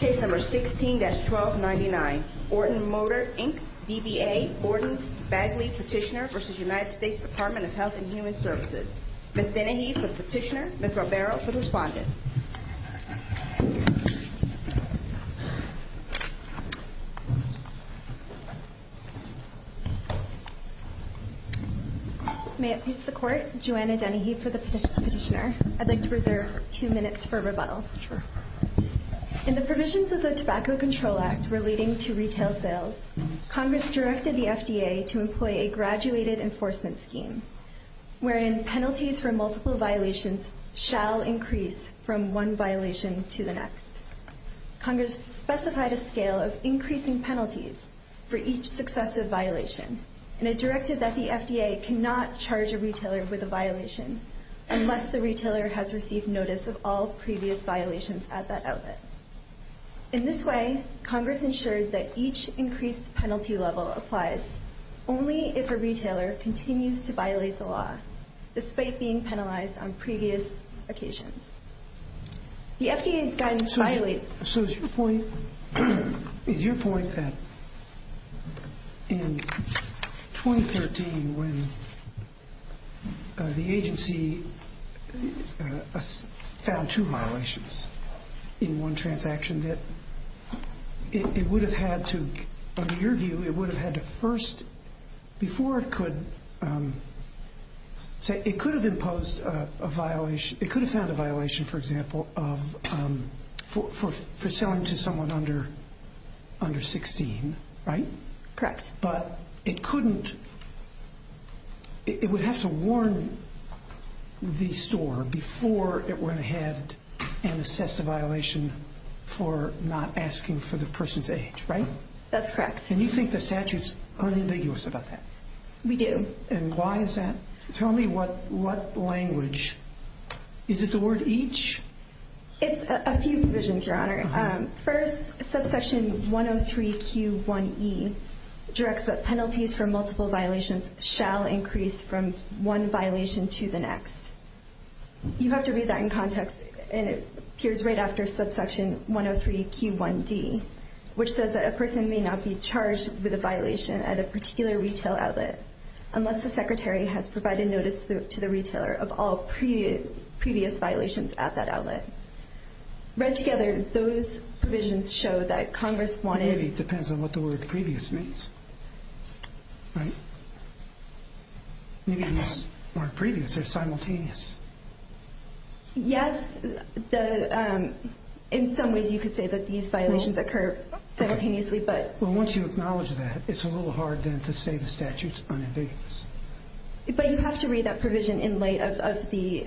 Case number 16-1299, Orton Motor, Inc., DBA, Bordens, Bagley, Petitioner v. United States Department of Health and Human Services. Ms. Dennehy for the Petitioner, Ms. Robero for the Respondent. May it please the Court, Joanna Dennehy for the Petitioner. I'd like to reserve two minutes for rebuttal. In the provisions of the Tobacco Control Act relating to retail sales, Congress directed the FDA to employ a graduated enforcement scheme, wherein penalties for multiple violations shall increase from one violation to the next. Congress specified a scale of increasing penalties for each successive violation, and it directed that the FDA cannot charge a retailer with a violation unless the retailer has received notice of all previous violations at that outlet. In this way, Congress ensured that each increased penalty level applies only if a retailer continues to violate the law, despite being penalized on previous occasions. The FDA's guidance violates. So is your point that in 2013, when the agency found two violations in one transaction, that it would have had to, under your view, it would have had to first, before it could, say, it could have imposed a violation, it could have found a violation, for example, for selling to someone under 16, right? Correct. But it couldn't, it would have to warn the store before it went ahead and assessed a violation for not asking for the person's age, right? That's correct. And you think the statute's unambiguous about that? We do. And why is that? Tell me what language. Is it the word each? It's a few provisions, Your Honor. First, subsection 103Q1E directs that penalties for multiple violations shall increase from one violation to the next. You have to read that in context, and it appears right after subsection 103Q1D, which says that a person may not be charged with a violation at a particular retail outlet unless the secretary has provided notice to the retailer of all previous violations at that outlet. Read together, those provisions show that Congress wanted to Maybe it depends on what the word previous means, right? Maybe not word previous, they're simultaneous. Yes, in some ways you could say that these violations occur simultaneously, but Well, once you acknowledge that, it's a little hard then to say the statute's unambiguous. But you have to read that provision in light of the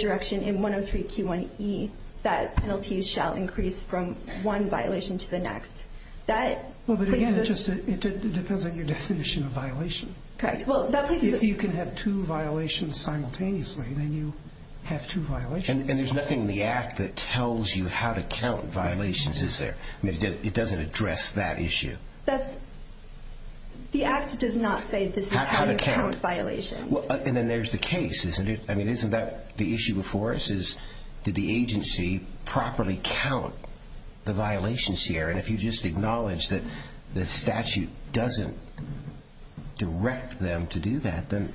direction in 103Q1E that penalties shall increase from one violation to the next. Well, but again, it depends on your definition of violation. Correct. If you can have two violations simultaneously, then you have two violations. And there's nothing in the Act that tells you how to count violations, is there? I mean, it doesn't address that issue. The Act does not say this is how to count violations. And then there's the case, isn't it? I mean, isn't that the issue before us is, did the agency properly count the violations here? And if you just acknowledge that the statute doesn't direct them to do that, then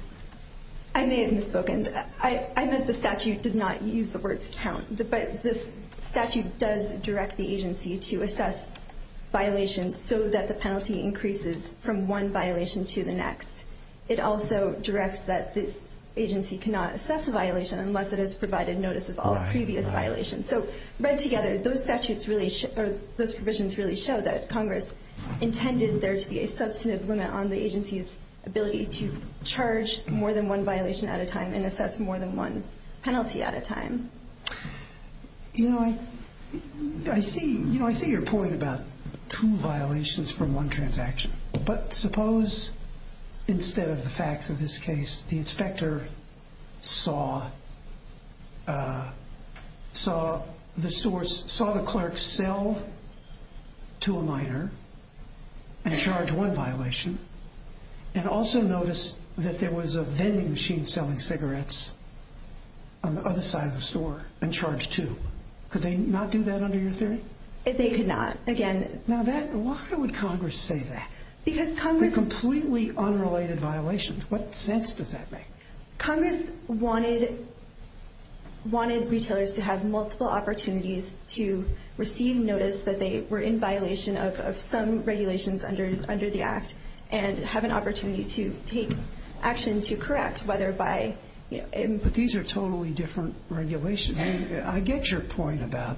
I may have misspoken. I meant the statute does not use the words count. But this statute does direct the agency to assess violations so that the penalty increases from one violation to the next. It also directs that this agency cannot assess a violation unless it has provided notice of all previous violations. So read together, those provisions really show that Congress intended there to be a substantive limit on the agency's ability to charge more than one violation at a time and assess more than one penalty at a time. You know, I see your point about two violations from one transaction. But suppose instead of the facts of this case, the inspector saw the clerks sell to a minor and charge one violation and also notice that there was a vending machine selling cigarettes on the other side of the store and charge two. Could they not do that under your theory? They could not. Why would Congress say that? Because Congress Completely unrelated violations. What sense does that make? Congress wanted retailers to have multiple opportunities to receive notice that they were in violation of some regulations under the Act and have an opportunity to take action to correct whether by But these are totally different regulations. I get your point about,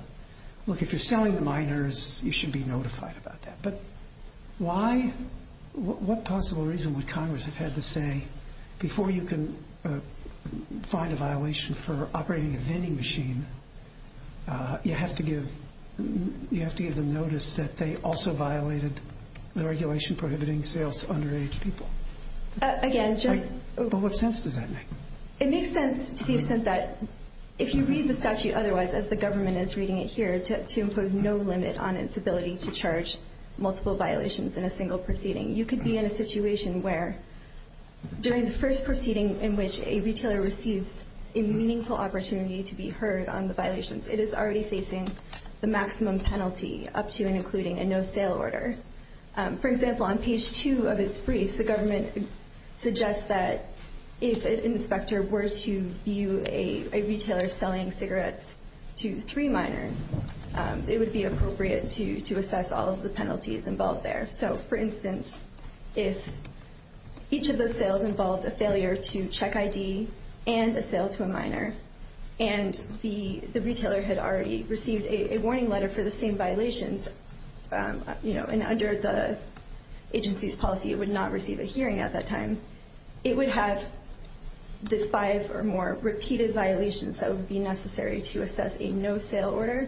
look, if you're selling to minors, you should be notified about that. But why? What possible reason would Congress have had to say, before you can find a violation for operating a vending machine, you have to give them notice that they also violated the regulation prohibiting sales to underage people? Again, just But what sense does that make? It makes sense to the extent that if you read the statute otherwise, as the government is reading it here, to impose no limit on its ability to charge multiple violations in a single proceeding, you could be in a situation where during the first proceeding in which a retailer receives a meaningful opportunity to be heard on the violations, it is already facing the maximum penalty up to and including a no-sale order. For example, on page 2 of its brief, the government suggests that if an inspector were to view a retailer selling cigarettes to three minors, it would be appropriate to assess all of the penalties involved there. So, for instance, if each of those sales involved a failure to check ID and a sale to a minor and the retailer had already received a warning letter for the same violations, and under the agency's policy it would not receive a hearing at that time, it would have the five or more repeated violations that would be necessary to assess a no-sale order,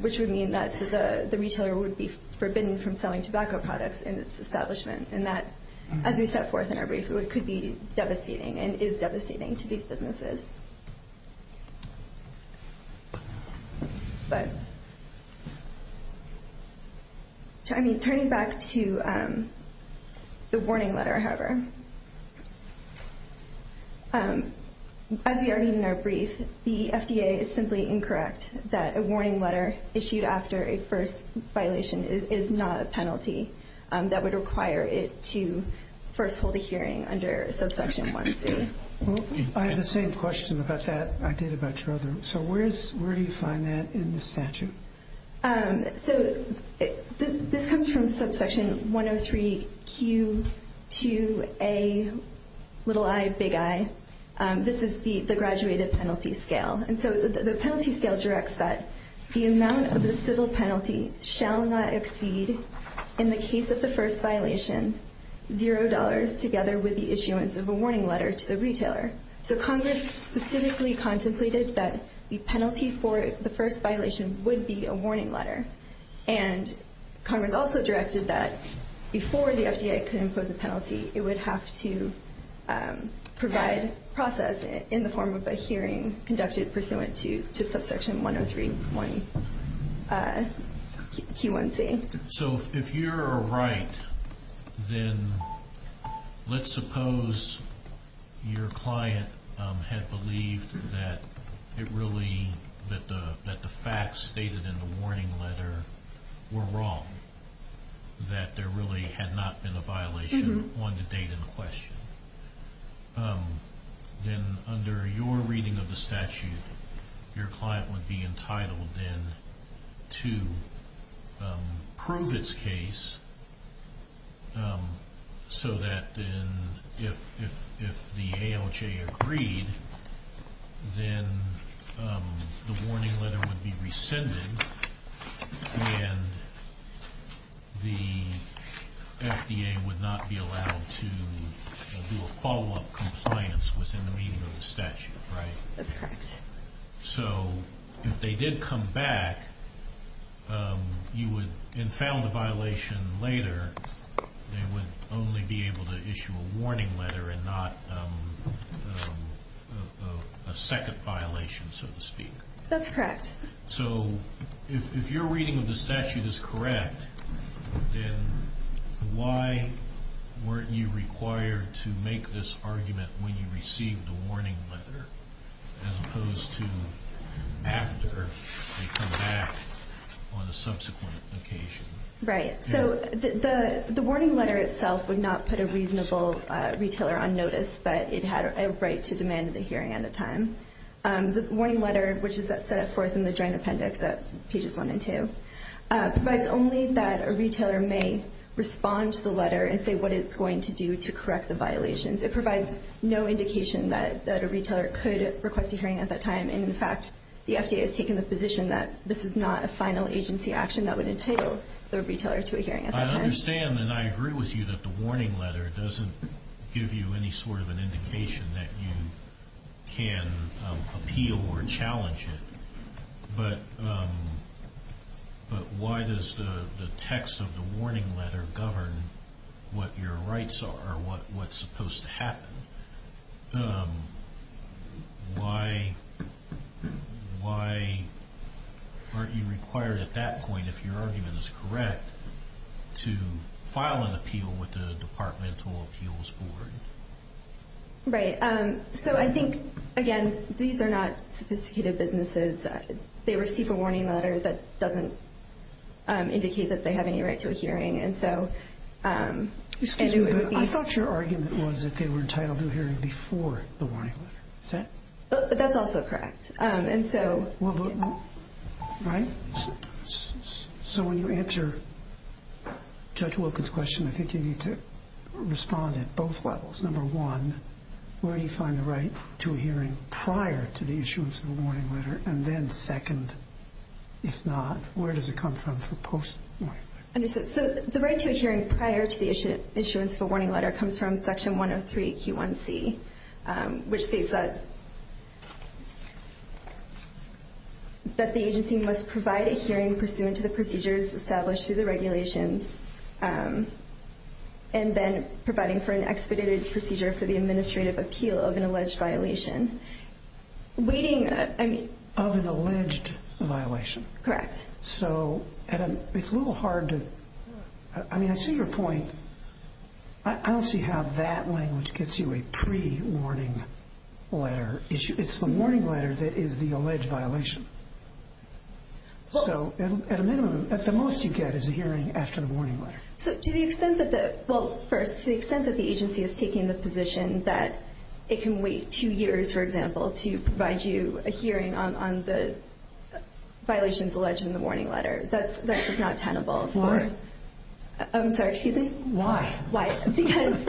which would mean that the retailer would be forbidden from selling tobacco products in its establishment. As we set forth in our brief, it could be devastating and is devastating to these businesses. Turning back to the warning letter, however, as we argued in our brief, the FDA is simply incorrect that a warning letter issued after a first violation is not a penalty that would require it to first hold a hearing under subsection 1C. I have the same question about that I did about your other one. So where do you find that in the statute? So this comes from subsection 103Q2A, little I, big I. This is the graduated penalty scale. And so the penalty scale directs that the amount of the civil penalty shall not exceed, in the case of the first violation, zero dollars together with the issuance of a warning letter to the retailer. So Congress specifically contemplated that the penalty for the first violation would be a warning letter. And Congress also directed that before the FDA could impose a penalty, it would have to provide process in the form of a hearing conducted pursuant to subsection 103Q1C. So if you're right, then let's suppose your client had believed that it really, that the facts stated in the warning letter were wrong, that there really had not been a violation on the date in question. Then under your reading of the statute, your client would be entitled then to prove its case so that then if the ALJ agreed, then the warning letter would be rescinded and the FDA would not be allowed to do a follow-up compliance within the meaning of the statute, right? That's correct. So if they did come back and found a violation later, they would only be able to issue a warning letter and not a second violation, so to speak. That's correct. So if your reading of the statute is correct, then why weren't you required to make this argument when you received the warning letter as opposed to after they come back on a subsequent occasion? Right. So the warning letter itself would not put a reasonable retailer on notice that it had a right to demand the hearing on the time. The warning letter, which is set forth in the joint appendix at pages 1 and 2, provides only that a retailer may respond to the letter and say what it's going to do to correct the violations. It provides no indication that a retailer could request a hearing at that time, and, in fact, the FDA has taken the position that this is not a final agency action that would entitle the retailer to a hearing at that time. I understand and I agree with you that the warning letter doesn't give you any sort of an indication that you can appeal or challenge it. But why does the text of the warning letter govern what your rights are or what's supposed to happen? Why aren't you required at that point, if your argument is correct, to file an appeal with the departmental appeals board? Right. So I think, again, these are not sophisticated businesses. They receive a warning letter that doesn't indicate that they have any right to a hearing. I thought your argument was that they were entitled to a hearing before the warning letter. That's also correct. Right. So when you answer Judge Wilkins' question, I think you need to respond at both levels. Number one, where do you find the right to a hearing prior to the issuance of a warning letter? And then second, if not, where does it come from for post-warning letter? So the right to a hearing prior to the issuance of a warning letter comes from Section 103Q1C, which states that the agency must provide a hearing pursuant to the procedures established through the regulations and then providing for an expedited procedure for the administrative appeal of an alleged violation. Of an alleged violation. Correct. So it's a little hard to – I mean, I see your point. I don't see how that language gets you a pre-warning letter issue. It's the warning letter that is the alleged violation. So at a minimum, at the most you get is a hearing after the warning letter. So to the extent that the – well, first, to the extent that the agency is taking the position that it can wait two years, for example, to provide you a hearing on the violations alleged in the warning letter, that's just not tenable. Why? I'm sorry, excuse me? Why? Why? Because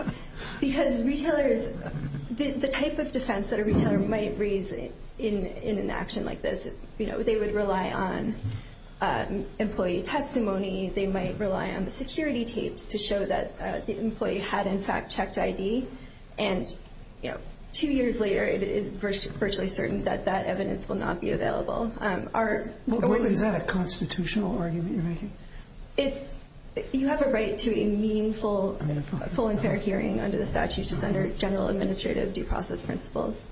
retailers – the type of defense that a retailer might raise in an action like this, you know, they would rely on employee testimony. They might rely on the security tapes to show that the employee had, in fact, checked ID. And, you know, two years later it is virtually certain that that evidence will not be available. Is that a constitutional argument you're making? It's – you have a right to a meaningful, full and fair hearing under the statute, just under general administrative due process principles.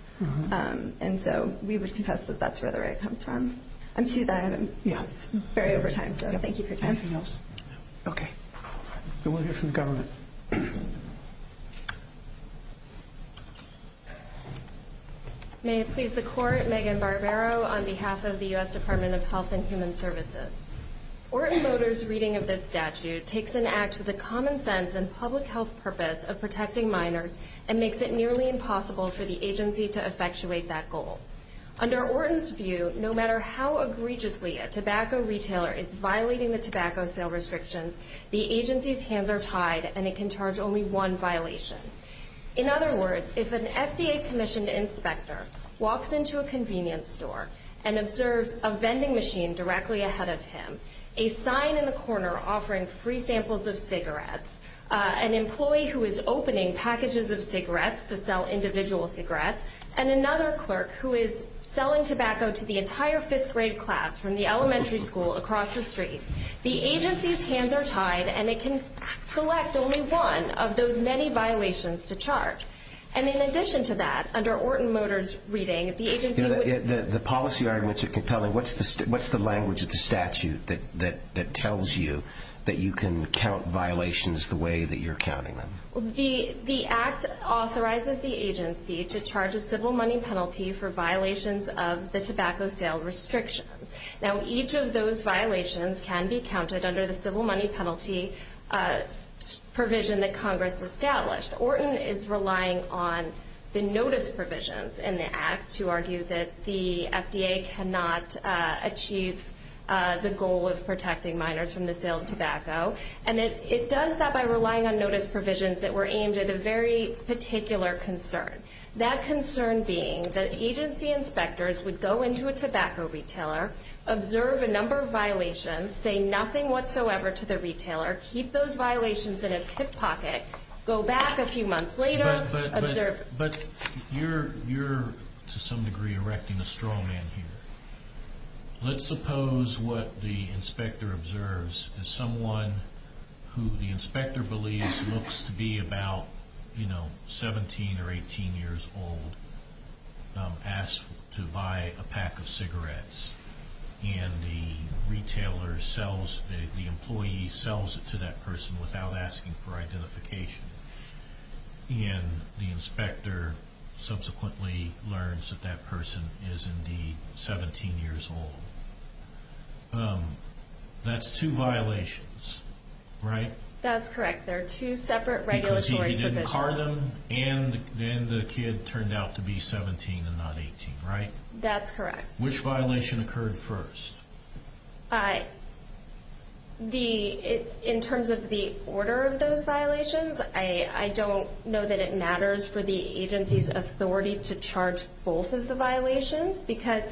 And so we would contest that that's where the right comes from. I'm sorry, I'm very over time, so thank you for your time. Anything else? No. Okay. Then we'll hear from the government. May it please the Court, Megan Barbero on behalf of the U.S. Department of Health and Human Services. Orton Motors' reading of this statute takes an act with a common sense and public health purpose of protecting minors and makes it nearly impossible for the agency to effectuate that goal. Under Orton's view, no matter how egregiously a tobacco retailer is violating the tobacco sale restrictions, the agency's hands are tied and it can charge only one violation. In other words, if an FDA-commissioned inspector walks into a convenience store and observes a vending machine directly ahead of him, a sign in the corner offering free samples of cigarettes, an employee who is opening packages of cigarettes to sell individual cigarettes, and another clerk who is selling tobacco to the entire fifth-grade class from the elementary school across the street, the agency's hands are tied and it can select only one of those many violations to charge. And in addition to that, under Orton Motors' reading, the agency would... The policy arguments are compelling. What's the language of the statute that tells you that you can count violations the way that you're counting them? The Act authorizes the agency to charge a civil money penalty for violations of the tobacco sale restrictions. Now, each of those violations can be counted under the civil money penalty provision that Congress established. Orton is relying on the notice provisions in the Act to argue that the FDA cannot achieve the goal of protecting minors from the sale of tobacco. And it does that by relying on notice provisions that were aimed at a very particular concern, that concern being that agency inspectors would go into a tobacco retailer, observe a number of violations, say nothing whatsoever to the retailer, keep those violations in its hip pocket, go back a few months later, observe... But you're, to some degree, erecting a straw man here. Let's suppose what the inspector observes is someone who the inspector believes looks to be about, you know, 17 or 18 years old, asks to buy a pack of cigarettes. And the retailer sells, the employee sells it to that person without asking for identification. And the inspector subsequently learns that that person is indeed 17 years old. That's two violations, right? That's correct. They're two separate regulatory provisions. Because he didn't card them, and then the kid turned out to be 17 and not 18, right? That's correct. Which violation occurred first? In terms of the order of those violations, I don't know that it matters for the agency's authority to charge both of the violations because...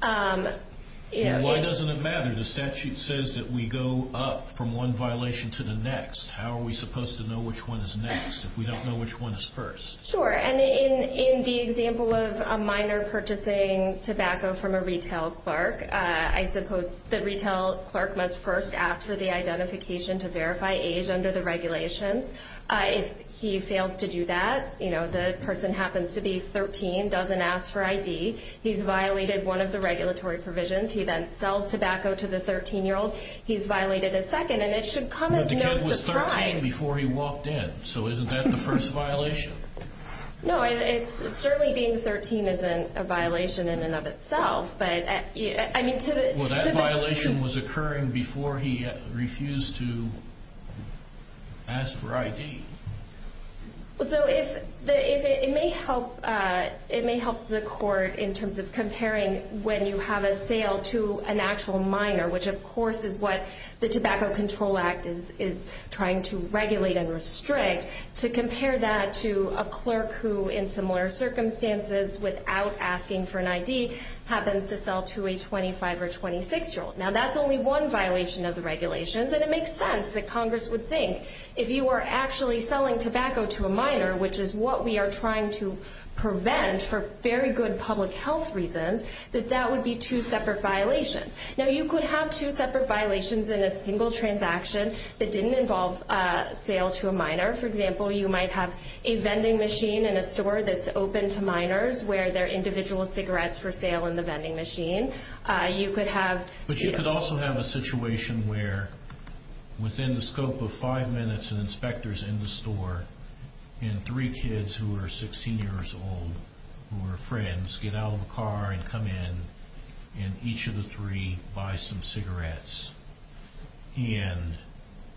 Why doesn't it matter? The statute says that we go up from one violation to the next. How are we supposed to know which one is next if we don't know which one is first? Sure. And in the example of a miner purchasing tobacco from a retail park, I suppose the retail clerk must first ask for the identification to verify age under the regulations. If he fails to do that, you know, the person happens to be 13, doesn't ask for ID, he's violated one of the regulatory provisions, he then sells tobacco to the 13-year-old, he's violated a second, and it should come as no surprise. But the kid was 13 before he walked in, so isn't that the first violation? No, certainly being 13 isn't a violation in and of itself. Well, that violation was occurring before he refused to ask for ID. So it may help the court in terms of comparing when you have a sale to an actual miner, which of course is what the Tobacco Control Act is trying to regulate and restrict, to compare that to a clerk who, in similar circumstances, without asking for an ID, happens to sell to a 25- or 26-year-old. Now, that's only one violation of the regulations, and it makes sense that Congress would think if you were actually selling tobacco to a miner, which is what we are trying to prevent for very good public health reasons, that that would be two separate violations. Now, you could have two separate violations in a single transaction that didn't involve sale to a miner. For example, you might have a vending machine in a store that's open to miners where there are individual cigarettes for sale in the vending machine. You could have... But you could also have a situation where, within the scope of five minutes, an inspector is in the store, and three kids who are 16 years old, who are friends, get out of the car and come in, and each of the three buys some cigarettes. And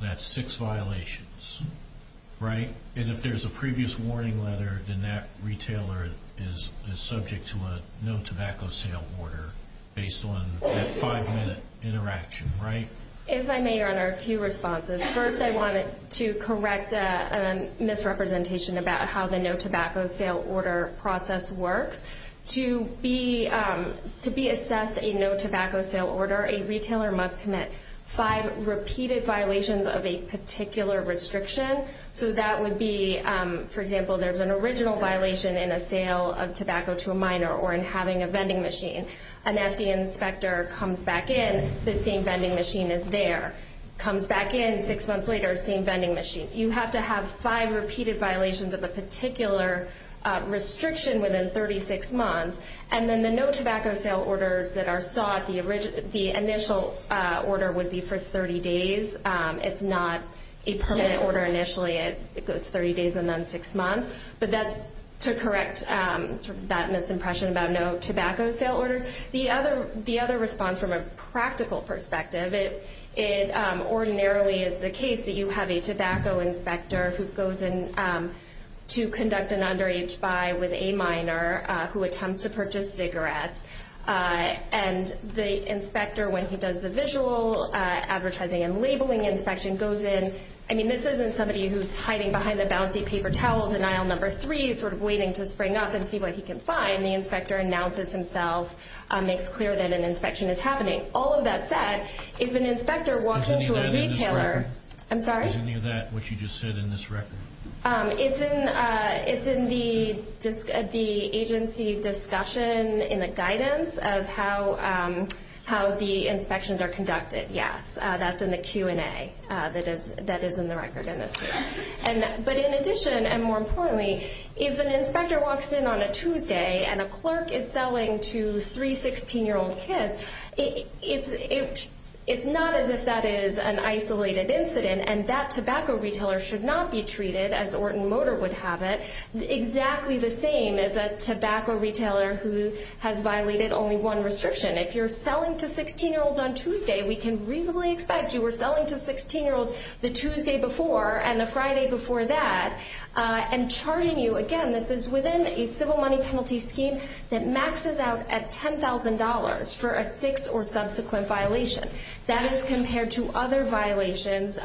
that's six violations, right? And if there's a previous warning letter, then that retailer is subject to a no-tobacco-sale order based on that five-minute interaction, right? If I may, Your Honor, a few responses. First, I wanted to correct a misrepresentation about how the no-tobacco-sale order process works. To be assessed a no-tobacco-sale order, a retailer must commit five repeated violations of a particular restriction. So that would be, for example, there's an original violation in a sale of tobacco to a miner or in having a vending machine. An FD inspector comes back in. The same vending machine is there. Comes back in six months later, same vending machine. You have to have five repeated violations of a particular restriction within 36 months. And then the no-tobacco-sale orders that are sought, the initial order would be for 30 days. It's not a permanent order initially. It goes 30 days and then six months. But that's to correct that misimpression about no-tobacco-sale orders. The other response from a practical perspective, it ordinarily is the case that you have a tobacco inspector who goes in to conduct an underage buy with a miner who attempts to purchase cigarettes. And the inspector, when he does the visual advertising and labeling inspection, goes in. I mean, this isn't somebody who's hiding behind the bouncy paper towels in aisle number three, sort of waiting to spring up and see what he can find. The inspector announces himself, makes clear that an inspection is happening. All of that said, if an inspector walks into a retailer... Is any of that in this record? I'm sorry? Is any of that what you just said in this record? It's in the agency discussion in the guidance of how the inspections are conducted, yes. That's in the Q&A that is in the record in this case. But in addition, and more importantly, if an inspector walks in on a Tuesday and a clerk is selling to three 16-year-old kids, it's not as if that is an isolated incident, and that tobacco retailer should not be treated, as Orton Motor would have it, exactly the same as a tobacco retailer who has violated only one restriction. If you're selling to 16-year-olds on Tuesday, we can reasonably expect you were selling to 16-year-olds the Tuesday before and the Friday before that, and charging you, again, this is within a civil money penalty scheme that maxes out at $10,000 for a sixth or subsequent violation. That is compared to other violations.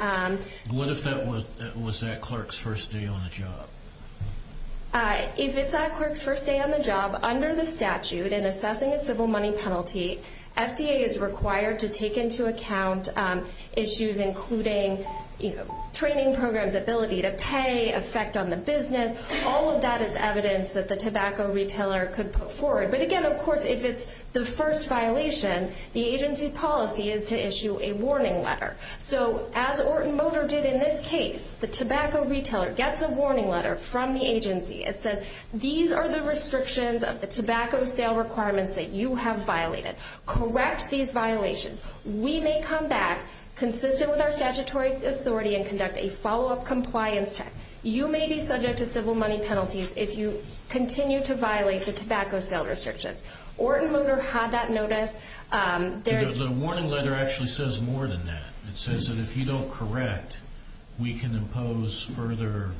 What if that was that clerk's first day on the job? If it's that clerk's first day on the job, under the statute, in assessing a civil money penalty, FDA is required to take into account issues including training programs, ability to pay, effect on the business. All of that is evidence that the tobacco retailer could put forward. But again, of course, if it's the first violation, the agency policy is to issue a warning letter. So as Orton Motor did in this case, the tobacco retailer gets a warning letter from the agency. It says, these are the restrictions of the tobacco sale requirements that you have violated. Correct these violations. We may come back, consistent with our statutory authority, and conduct a follow-up compliance check. You may be subject to civil money penalties if you continue to violate the tobacco sale restrictions. Orton Motor had that notice. The warning letter actually says more than that. It says that if you don't correct, we can impose further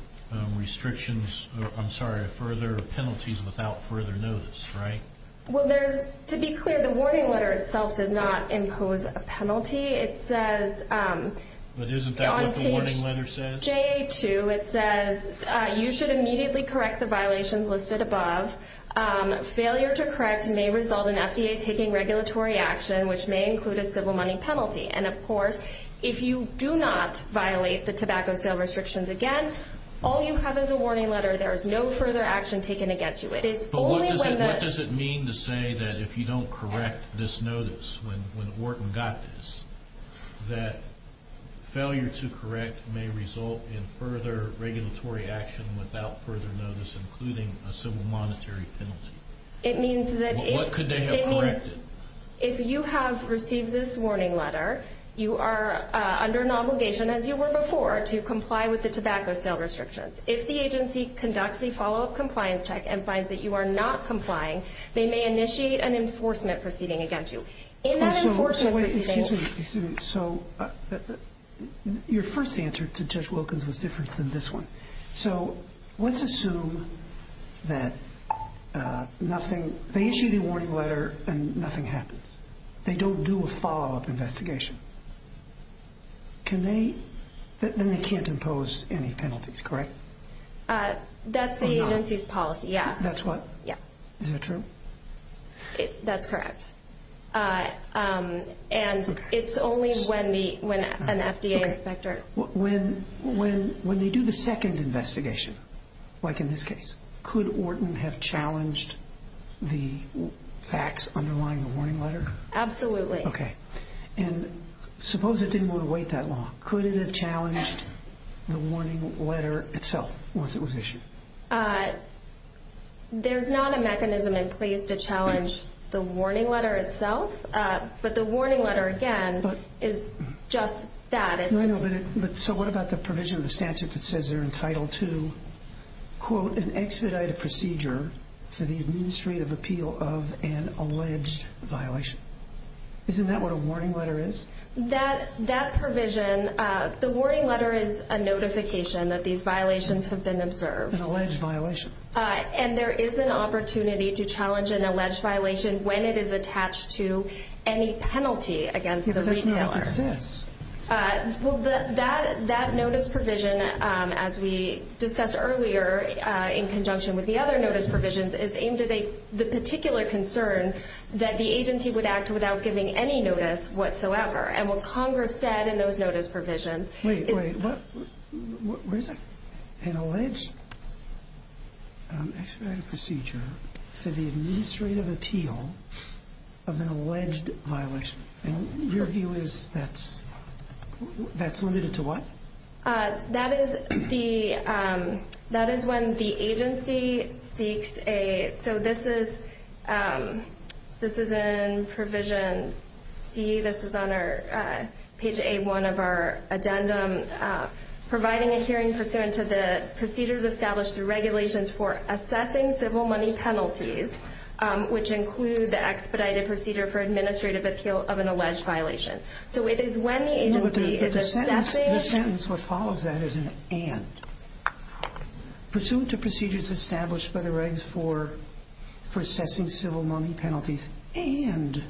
penalties without further notice, right? To be clear, the warning letter itself does not impose a penalty. But isn't that what the warning letter says? On page JA2, it says you should immediately correct the violations listed above. Failure to correct may result in FDA taking regulatory action, which may include a civil money penalty. And, of course, if you do not violate the tobacco sale restrictions again, all you have is a warning letter. There is no further action taken against you. But what does it mean to say that if you don't correct this notice when Orton got this, that failure to correct may result in further regulatory action without further notice, including a civil monetary penalty? What could they have corrected? If you have received this warning letter, you are under an obligation, as you were before, to comply with the tobacco sale restrictions. If the agency conducts a follow-up compliance check and finds that you are not complying, they may initiate an enforcement proceeding against you. In that enforcement proceeding- So your first answer to Judge Wilkins was different than this one. So let's assume that they issue the warning letter and nothing happens. They don't do a follow-up investigation. Then they can't impose any penalties, correct? That's the agency's policy, yes. That's what? Yeah. Is that true? That's correct. And it's only when an FDA inspector- When they do the second investigation, like in this case, could Orton have challenged the facts underlying the warning letter? Absolutely. Okay. And suppose it didn't want to wait that long. Could it have challenged the warning letter itself once it was issued? There's not a mechanism in place to challenge the warning letter itself, but the warning letter, again, is just that. So what about the provision in the statute that says they're entitled to, quote, an expedited procedure for the administrative appeal of an alleged violation? Isn't that what a warning letter is? That provision, the warning letter is a notification that these violations have been observed. An alleged violation. And there is an opportunity to challenge an alleged violation when it is attached to any penalty against the retailer. Well, that notice provision, as we discussed earlier, in conjunction with the other notice provisions, is aimed at the particular concern that the agency would act without giving any notice whatsoever. And what Congress said in those notice provisions- Wait, wait. Where is it? An alleged expedited procedure for the administrative appeal of an alleged violation. And your view is that's limited to what? That is when the agency seeks a- So this is in provision C. This is on page A1 of our addendum. Providing a hearing pursuant to the procedures established through regulations for assessing civil money penalties, which include the expedited procedure for administrative appeal of an alleged violation. So it is when the agency is assessing- But the sentence that follows that is an and. Pursuant to procedures established by the regs for assessing civil money penalties and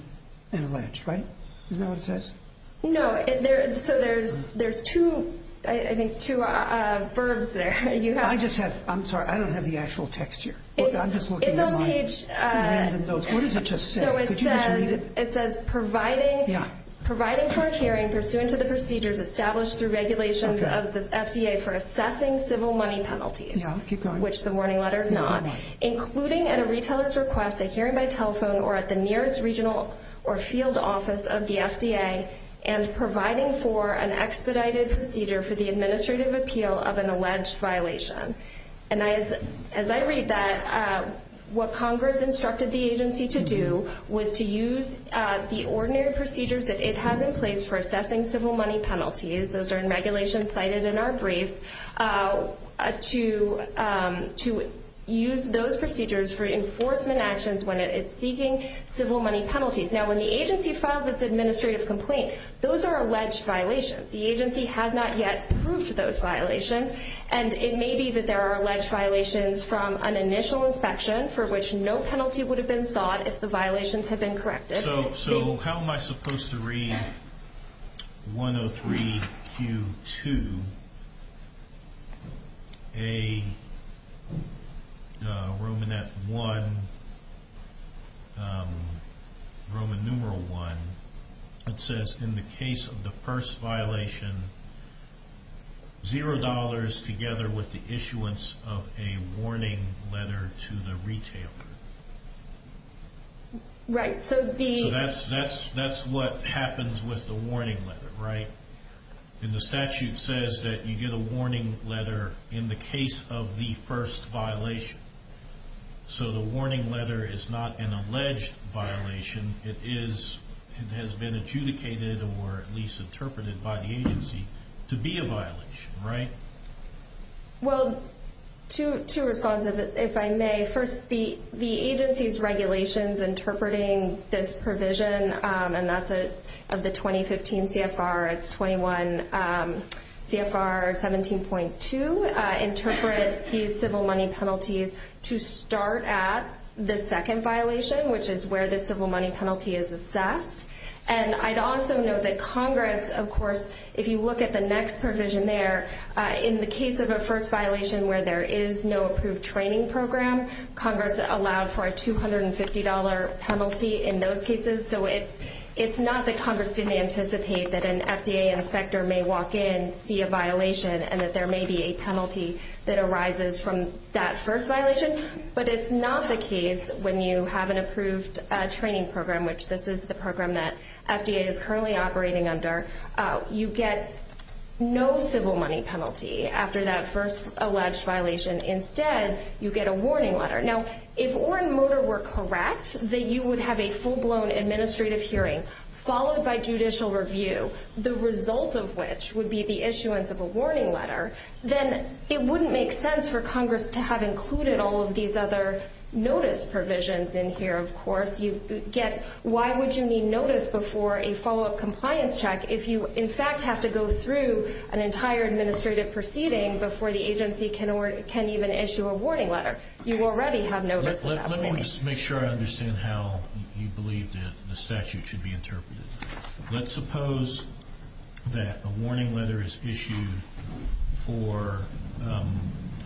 an alleged, right? Is that what it says? No. So there's two verbs there. I'm sorry. I don't have the actual text here. It's on page- What does it just say? Could you just read it? It says providing for a hearing pursuant to the procedures established through regulations of the FDA for assessing civil money penalties, which the warning letter is not, including at a retailer's request, a hearing by telephone, or at the nearest regional or field office of the FDA, and providing for an expedited procedure for the administrative appeal of an alleged violation. And as I read that, what Congress instructed the agency to do was to use the ordinary procedures that it has in place for assessing civil money penalties, those are in regulations cited in our brief, to use those procedures for enforcement actions when it is seeking civil money penalties. Now, when the agency files its administrative complaint, those are alleged violations. The agency has not yet proved those violations, and it may be that there are alleged violations from an initial inspection for which no penalty would have been sought if the violations had been corrected. So how am I supposed to read 103Q2, Roman numeral 1, it says in the case of the first violation, zero dollars together with the issuance of a warning letter to the retailer. Right. So that's what happens with the warning letter, right? And the statute says that you get a warning letter in the case of the first violation. So the warning letter is not an alleged violation, it has been adjudicated or at least interpreted by the agency to be a violation, right? Well, two responses, if I may. First, the agency's regulations interpreting this provision, and that's of the 2015 CFR, it's 21 CFR 17.2, interpret these civil money penalties to start at the second violation, which is where the civil money penalty is assessed. And I'd also note that Congress, of course, if you look at the next provision there, in the case of a first violation where there is no approved training program, Congress allowed for a $250 penalty in those cases. So it's not that Congress didn't anticipate that an FDA inspector may walk in, see a violation, and that there may be a penalty that arises from that first violation. But it's not the case when you have an approved training program, which this is the program that FDA is currently operating under, you get no civil money penalty after that first alleged violation. Instead, you get a warning letter. Now, if Orrin Motor were correct that you would have a full-blown administrative hearing followed by judicial review, the result of which would be the issuance of a warning letter, then it wouldn't make sense for Congress to have included all of these other notice provisions in here. Of course, you get why would you need notice before a follow-up compliance check if you, in fact, have to go through an entire administrative proceeding before the agency can even issue a warning letter. You already have notice of that. Let me just make sure I understand how you believe that the statute should be interpreted. Let's suppose that a warning letter is issued for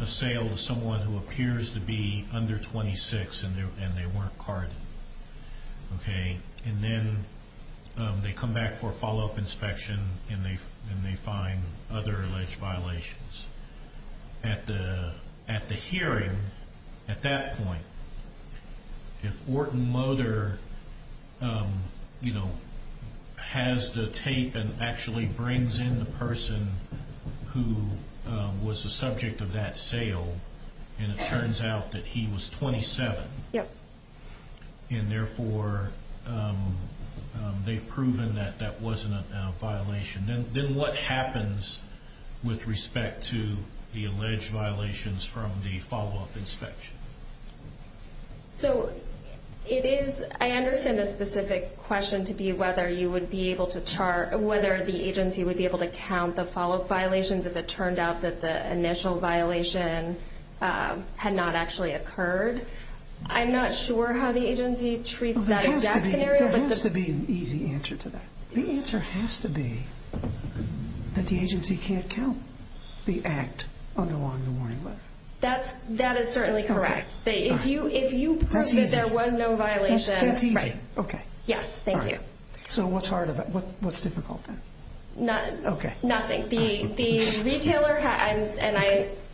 a sale to someone who appears to be under 26 and they weren't carded. Then they come back for a follow-up inspection and they find other alleged violations. At the hearing, at that point, if Orrin Motor has the tape and actually brings in the person who was the subject of that sale and it turns out that he was 27 and, therefore, they've proven that that wasn't a violation, then what happens with respect to the alleged violations from the follow-up inspection? I understand the specific question to be whether you would be able to chart or whether the agency would be able to count the follow-up violations if it turned out that the initial violation had not actually occurred. I'm not sure how the agency treats that exact scenario. There has to be an easy answer to that. The answer has to be that the agency can't count the act under the warning letter. That is certainly correct. If you prove that there was no violation... That's easy. Yes, thank you. So what's difficult then? Nothing. The retailer has... And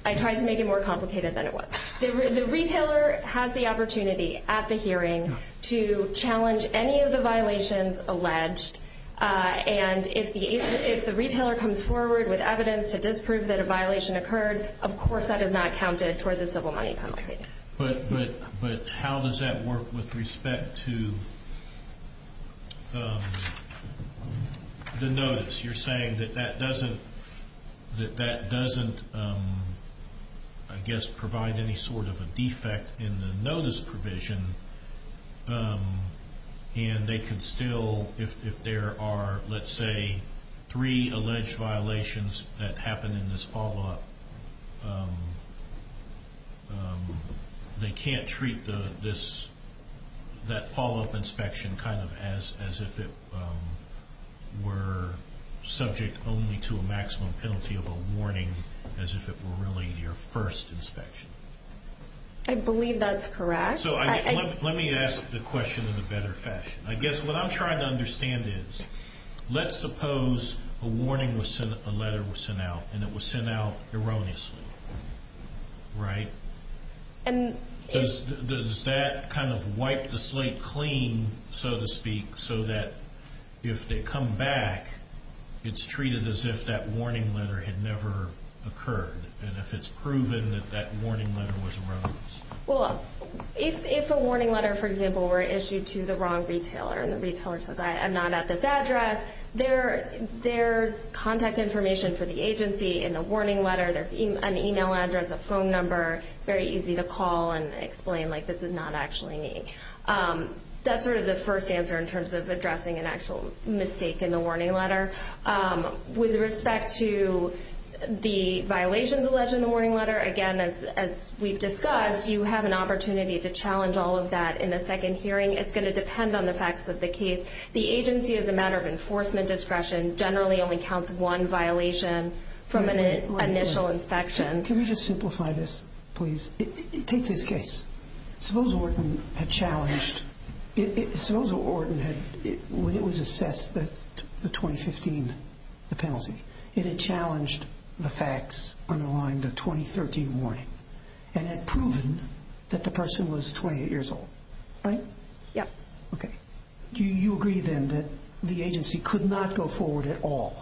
I tried to make it more complicated than it was. The retailer has the opportunity at the hearing to challenge any of the violations alleged. And if the retailer comes forward with evidence to disprove that a violation occurred, of course that is not counted toward the civil money penalty. But how does that work with respect to the notice? You're saying that that doesn't, I guess, provide any sort of a defect in the notice provision, and they can still, if there are, let's say, three alleged violations that happened in this follow-up, they can't treat that follow-up inspection as if it were subject only to a maximum penalty of a warning, as if it were really your first inspection. I believe that's correct. Let me ask the question in a better fashion. I guess what I'm trying to understand is, let's suppose a letter was sent out, and it was sent out erroneously, right? Does that kind of wipe the slate clean, so to speak, so that if they come back, it's treated as if that warning letter had never occurred, and if it's proven that that warning letter was erroneous? Well, if a warning letter, for example, were issued to the wrong retailer, and the retailer says, I am not at this address, there's contact information for the agency in the warning letter. There's an email address, a phone number, very easy to call and explain, like, this is not actually me. That's sort of the first answer in terms of addressing an actual mistake in the warning letter. With respect to the violations alleged in the warning letter, again, as we've discussed, you have an opportunity to challenge all of that in a second hearing. It's going to depend on the facts of the case. The agency, as a matter of enforcement discretion, generally only counts one violation from an initial inspection. Can we just simplify this, please? Take this case. Suppose Orton had challenged, when it was assessed the 2015 penalty, it had challenged the facts underlying the 2013 warning and had proven that the person was 28 years old. Right? Yeah. Okay. Do you agree, then, that the agency could not go forward at all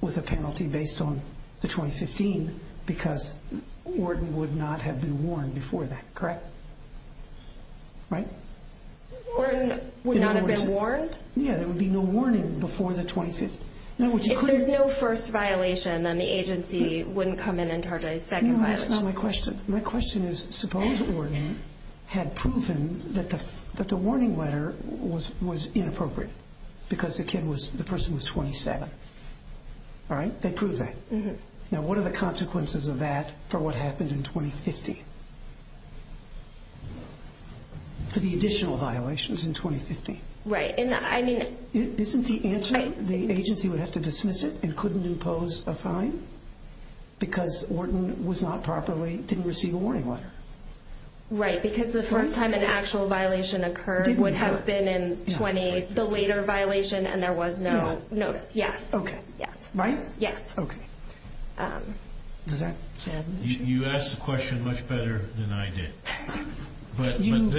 with a penalty based on the 2015 because Orton would not have been warned before that, correct? Right? Orton would not have been warned? Yeah, there would be no warning before the 2015. If there's no first violation, then the agency wouldn't come in and charge a second violation. That's not my question. My question is, suppose Orton had proven that the warning letter was inappropriate because the person was 27. All right? They proved that. Now, what are the consequences of that for what happened in 2015, for the additional violations in 2015? Right. Because Orton was not properly, didn't receive a warning letter. Right, because the first time an actual violation occurred would have been in 20, the later violation, and there was no notice. No. Yes. Okay. Yes. Right? Yes. Okay. Does that add anything? You asked the question much better than I did. But then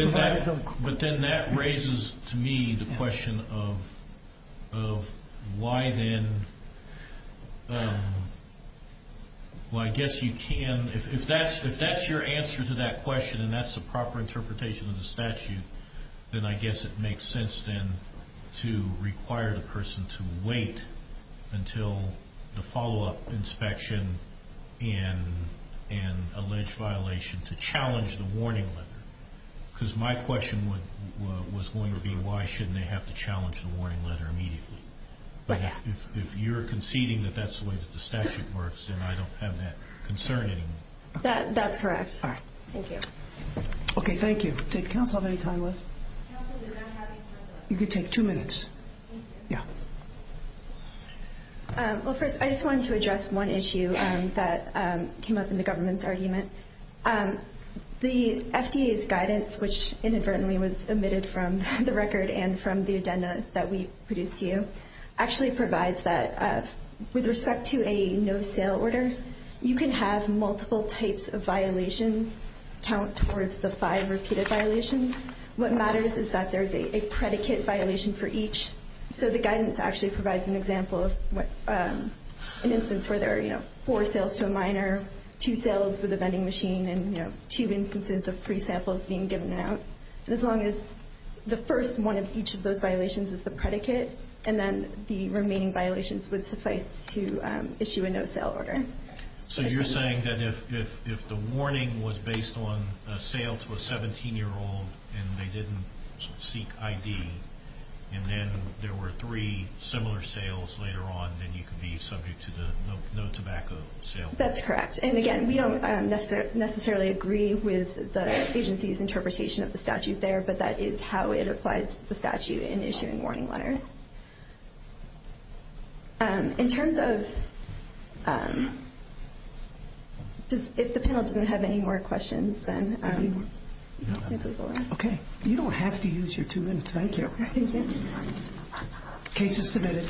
that raises to me the question of why then, well, I guess you can, if that's your answer to that question and that's the proper interpretation of the statute, then I guess it makes sense then to require the person to wait until the follow-up inspection and alleged violation to challenge the warning letter. Because my question was going to be, why shouldn't they have to challenge the warning letter immediately? But if you're conceding that that's the way that the statute works, then I don't have that concern anymore. That's correct. All right. Thank you. Okay, thank you. Did counsel have any time left? Counsel, we're not having time left. You can take two minutes. Thank you. Yeah. Well, first, I just wanted to address one issue that came up in the government's argument. The FDA's guidance, which inadvertently was omitted from the record and from the agenda that we produced to you, actually provides that with respect to a no-sale order, you can have multiple types of violations count towards the five repeated violations. What matters is that there's a predicate violation for each, so the guidance actually provides an example of an instance where there are four sales to a minor, two sales with a vending machine, and two instances of free samples being given out. As long as the first one of each of those violations is the predicate, and then the remaining violations would suffice to issue a no-sale order. So you're saying that if the warning was based on a sale to a 17-year-old and they didn't seek ID, and then there were three similar sales later on, then you could be subject to the no-tobacco sale? That's correct. And, again, we don't necessarily agree with the agency's interpretation of the statute there, but that is how it applies to the statute in issuing warning letters. In terms of if the panel doesn't have any more questions, then I believe we'll ask. Okay. You don't have to use your two minutes. Thank you. Thank you. The case is submitted.